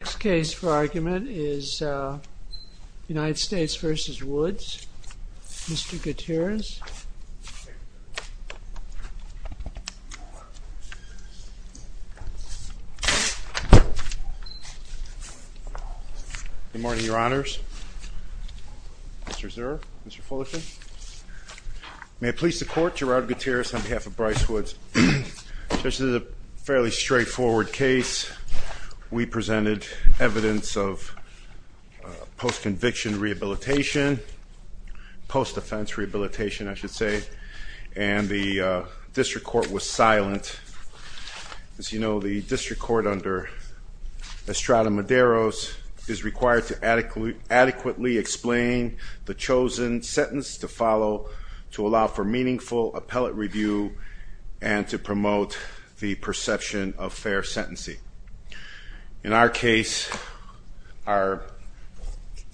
The next case for argument is United States v. Woods. Mr. Gutierrez. Good morning, your honors. Mr. Zurr. Mr. Fullerton. May I please the court, Gerard Gutierrez on behalf of Bryce Woods. This is a fairly straightforward case. We presented evidence of post-conviction rehabilitation, post-defense rehabilitation I should say, and the district court was silent. As you know, the district court under Estrada Medeiros is required to adequately explain the chosen sentence to follow to allow for meaningful appellate review and to promote the perception of fair sentencing. In our case, our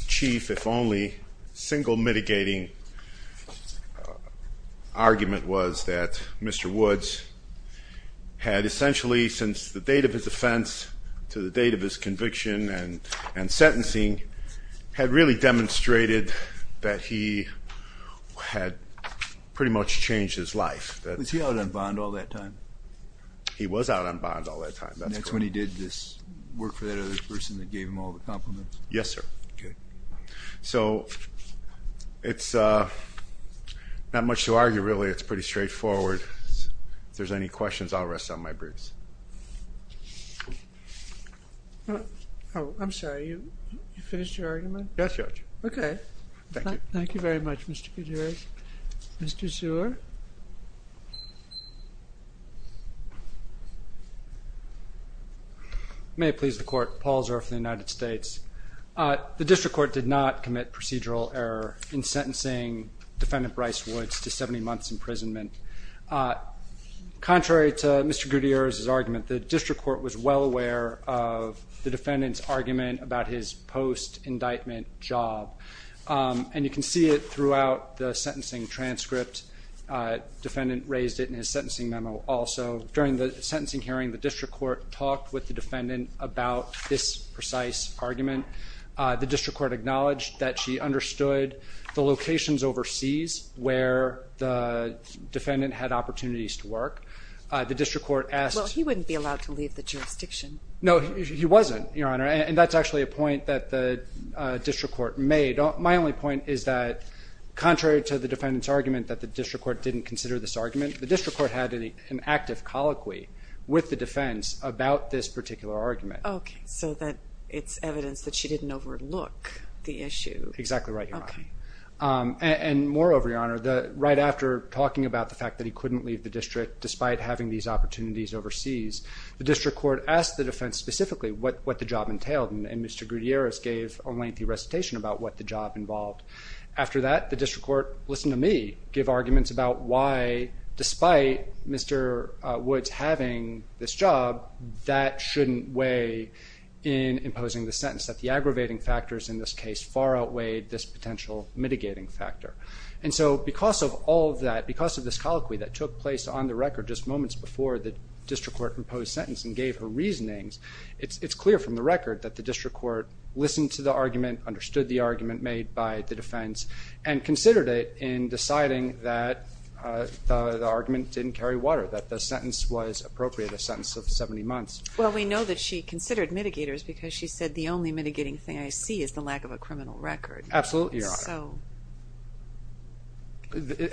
chief, if only, single mitigating argument was that Mr. Woods had essentially, since the date of his offense to the date of his conviction and sentencing, had really demonstrated that he had pretty much changed his life. Was he out on bond all that time? He was out on bond all that time. That's when he did this work for that other person that gave him all the compliments? Yes, sir. Okay. So, it's not much to argue really. It's pretty straightforward. If there's any questions, I'll rest on my briefs. Oh, I'm sorry. You finished your argument? Yes, your honor. Okay. Thank you. Thank you very much, Mr. Gutierrez. Mr. Zurr. May it please the court. Paul Zurr for the United States. The district court did not commit procedural error in sentencing defendant Bryce Woods to 70 months imprisonment. Contrary to Mr. Gutierrez's argument, the district court was well aware of the defendant's argument about his post-indictment job. And you can see it throughout the sentencing transcript. Defendant raised it in his sentencing memo also. During the sentencing hearing, the district court talked with the defendant about this precise argument. The district court acknowledged that she understood the locations overseas where the defendant had opportunities to work. The district court asked... Well, he wouldn't be allowed to leave the jurisdiction. No, he wasn't, your honor. And that's actually a point that the district court made. My only point is that contrary to the defendant's argument that the district court didn't consider this argument, the district court had an active colloquy with the defense about this particular argument. Okay. So that it's evidence that she didn't overlook the issue. Exactly right, your honor. Okay. And moreover, your honor, right after talking about the fact that he couldn't leave the district despite having these opportunities overseas, the district court asked the defense specifically what the job entailed. And Mr. Gutierrez gave a lengthy recitation about what the job involved. After that, the district court, listen to me, gave arguments about why despite Mr. Woods having this job, that shouldn't weigh in imposing the sentence, that the aggravating factors in this case far outweighed this potential mitigating factor. And so because of all of that, because of this colloquy that took place on the record just moments before the district court imposed sentence and gave her reasonings, it's clear from the record that the district court listened to the argument, understood the argument made by the defense, and considered it in deciding that the argument didn't carry water, that the sentence was appropriate, a sentence of 70 months. Well, we know that she considered mitigators because she said the only mitigating thing I see is the lack of a criminal record. Absolutely, your honor. So.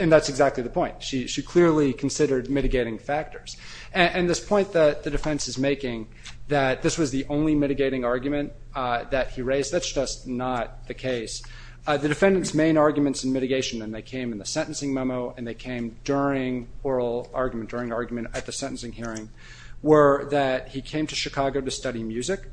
And that's exactly the point. She clearly considered mitigating factors. And this point that the defense is making, that this was the only mitigating argument that he raised, that's just not the case. The defendant's main arguments in mitigation, and they came in the sentencing memo, and they came during oral argument, during argument at the sentencing hearing, were that he came to Chicago to study music,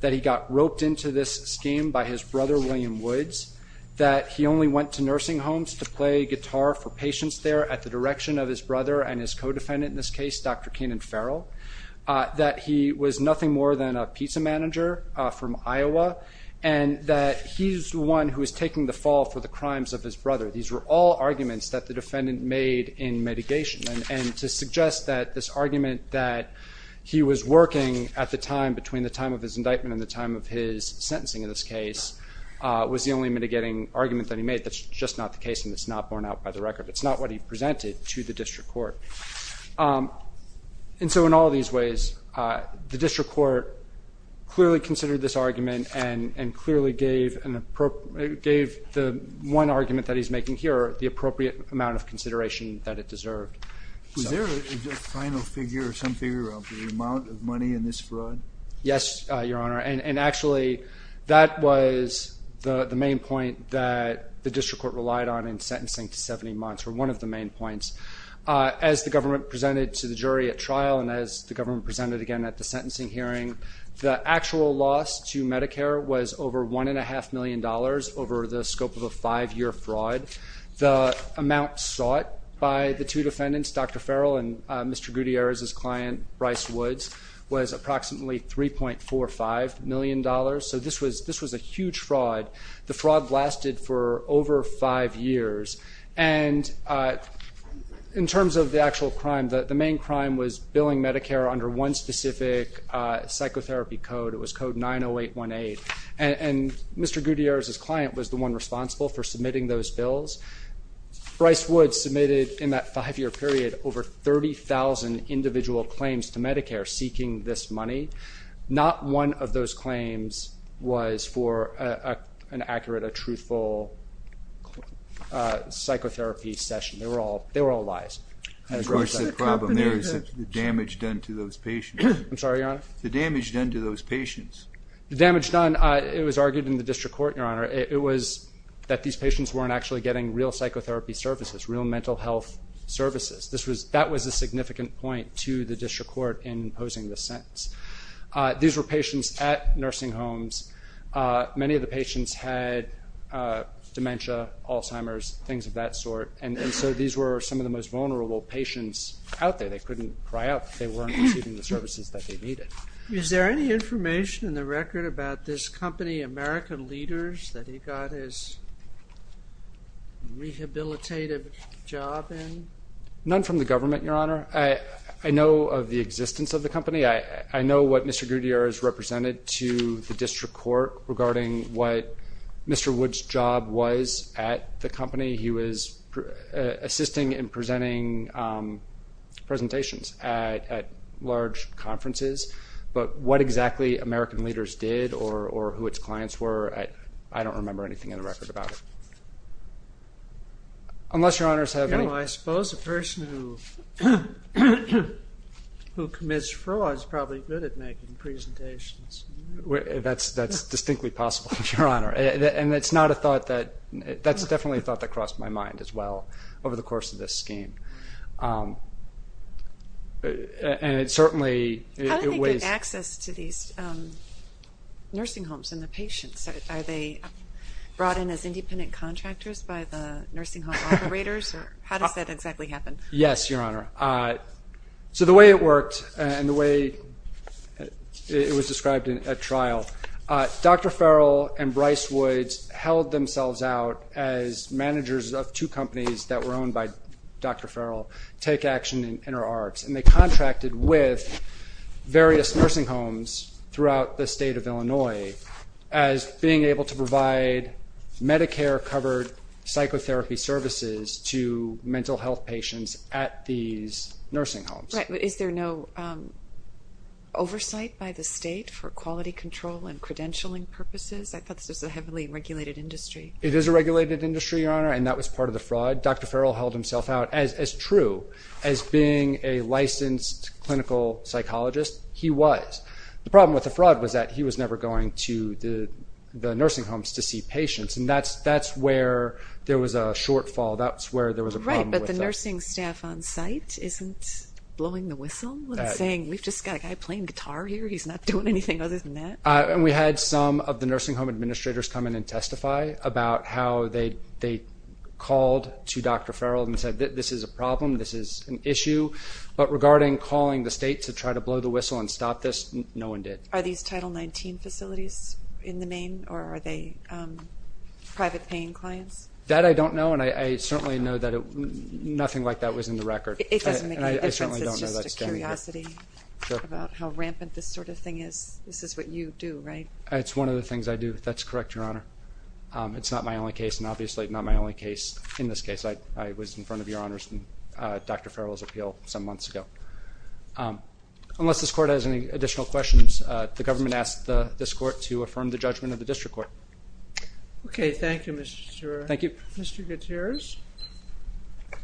that he got roped into this scheme by his brother, William Woods, that he only went to nursing homes to play guitar for patients there at the direction of his brother and his co-defendant in this case, Dr. Kenan Farrell, that he was nothing more than a pizza manager from Iowa, and that he's the one who is taking the fall for the crimes of his brother. These were all arguments that the defendant made in mitigation. And to suggest that this argument that he was working at the time, of his indictment and the time of his sentencing in this case, was the only mitigating argument that he made, that's just not the case and it's not borne out by the record. It's not what he presented to the district court. And so in all these ways, the district court clearly considered this argument and clearly gave the one argument that he's making here the appropriate amount of consideration that it deserved. Was there a final figure or some figure of the amount of money in this fraud? Yes, Your Honor. And actually, that was the main point that the district court relied on in sentencing to 70 months, or one of the main points. As the government presented to the jury at trial and as the government presented again at the sentencing hearing, the actual loss to Medicare was over $1.5 million over the scope of a five-year fraud. The amount sought by the two defendants, Dr. Farrell and Mr. Gutierrez's client, Bryce Woods, was approximately $3.45 million. So this was a huge fraud. The fraud lasted for over five years. And in terms of the actual crime, the main crime was billing Medicare under one specific psychotherapy code. It was code 90818. And Mr. Gutierrez's client was the one responsible for submitting those bills. Bryce Woods submitted, in that five-year period, over 30,000 individual claims to Medicare seeking this money. Not one of those claims was for an accurate, a truthful psychotherapy session. They were all lies. Of course, the problem there is the damage done to those patients. I'm sorry, Your Honor? The damage done to those patients. The damage done, it was argued in the district court, Your Honor. It was that these patients weren't actually getting real psychotherapy services, real mental health services. That was a significant point to the district court in posing this sentence. These were patients at nursing homes. Many of the patients had dementia, Alzheimer's, things of that sort. And so these were some of the most vulnerable patients out there. They couldn't cry out that they weren't receiving the services that they needed. Is there any information in the record about this company, American Leaders, that he got his rehabilitative job in? None from the government, Your Honor. I know of the existence of the company. I know what Mr. Gutierrez represented to the district court regarding what Mr. Woods' job was at the company. He was assisting in presenting presentations at large conferences. But what exactly American Leaders did or who its clients were, I don't remember anything in the record about it. Unless Your Honors have any... I suppose a person who commits fraud is probably good at making presentations. That's distinctly possible, Your Honor. And it's not a thought that... That's definitely a thought that crossed my mind as well over the course of this scheme. And it certainly... How did they get access to these nursing homes and the patients? Are they brought in as independent contractors by the nursing home operators? How does that exactly happen? Yes, Your Honor. So the way it worked and the way it was described at trial, Dr. Farrell and Bryce Woods held themselves out as managers of two companies that were owned by Dr. Farrell, Take Action and InterArts, and they contracted with various nursing homes throughout the state of Illinois as being able to provide Medicare-covered psychotherapy services to mental health patients at these nursing homes. Right, but is there no oversight by the state for quality control and credentialing purposes? I thought this was a heavily regulated industry. It is a regulated industry, Your Honor, and that was part of the fraud. Dr. Farrell held himself out, as true as being a licensed clinical psychologist, he was. The problem with the fraud was that he was never going to the nursing homes to see patients, and that's where there was a shortfall. That's where there was a problem with that. Right, but the nursing staff on site isn't blowing the whistle and saying, we've just got a guy playing guitar here, he's not doing anything other than that? We had some of the nursing home administrators come in and testify about how they called to Dr. Farrell and said this is a problem, this is an issue, but regarding calling the state to try to blow the whistle and stop this, no one did. Are these Title XIX facilities in the main, or are they private-paying clients? That I don't know, and I certainly know that nothing like that was in the record. It doesn't make any difference, it's just a curiosity about how rampant this sort of thing is. This is what you do, right? It's one of the things I do. That's correct, Your Honor. It's not my only case, and obviously not my only case in this case. I was in front of Your Honor's and Dr. Farrell's appeal some months ago. Unless this Court has any additional questions, the government asks this Court to affirm the judgment of the district court. Okay, thank you, Mr. Zurs. Thank you. Mr. Gutierrez? I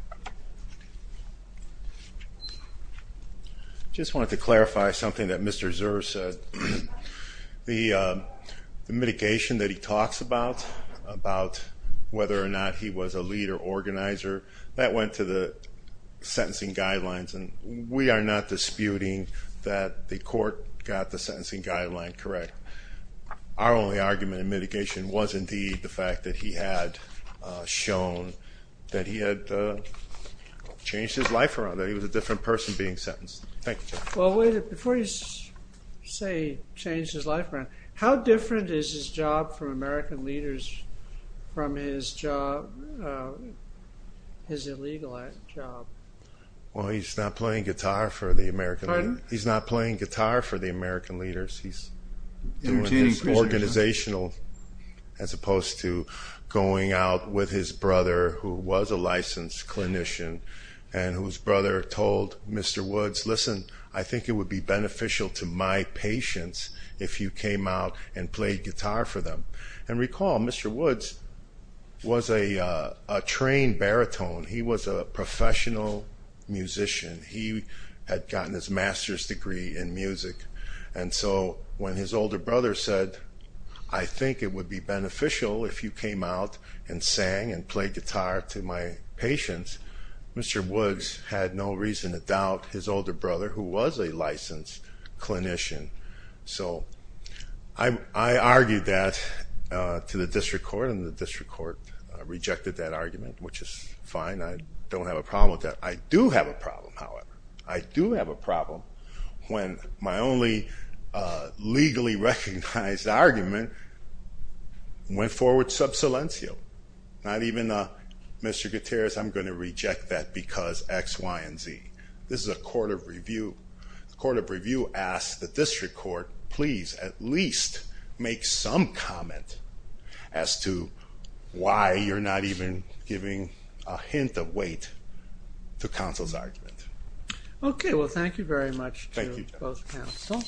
just wanted to clarify something that Mr. Zurs said. The mitigation that he talks about, about whether or not he was a lead or organizer, that went to the sentencing guidelines, and we are not disputing that the Court got the sentencing guideline correct. Our only argument in mitigation was indeed the fact that he had shown that he had changed his life around, that he was a different person being sentenced. Thank you, Judge. Well, wait a minute. Before you say he changed his life around, how different is his job for American leaders from his job, his illegal act job? Pardon? Organizational as opposed to going out with his brother who was a licensed clinician and whose brother told Mr. Woods, listen, I think it would be beneficial to my patients if you came out and played guitar for them. And recall, Mr. Woods was a trained baritone. He was a professional musician. He had gotten his master's degree in music. And so when his older brother said, I think it would be beneficial if you came out and sang and played guitar to my patients, Mr. Woods had no reason to doubt his older brother, who was a licensed clinician. So I argued that to the District Court, and the District Court rejected that argument, which is fine. I don't have a problem with that. I do have a problem, however. I do have a problem when my only legally recognized argument went forward sub silencio. Not even, Mr. Gutierrez, I'm going to reject that because X, Y, and Z. This is a court of review. The court of review asked the District Court, please at least make some comment as to why you're not even giving a hint of weight to counsel's argument. Okay, well thank you very much to both counsel.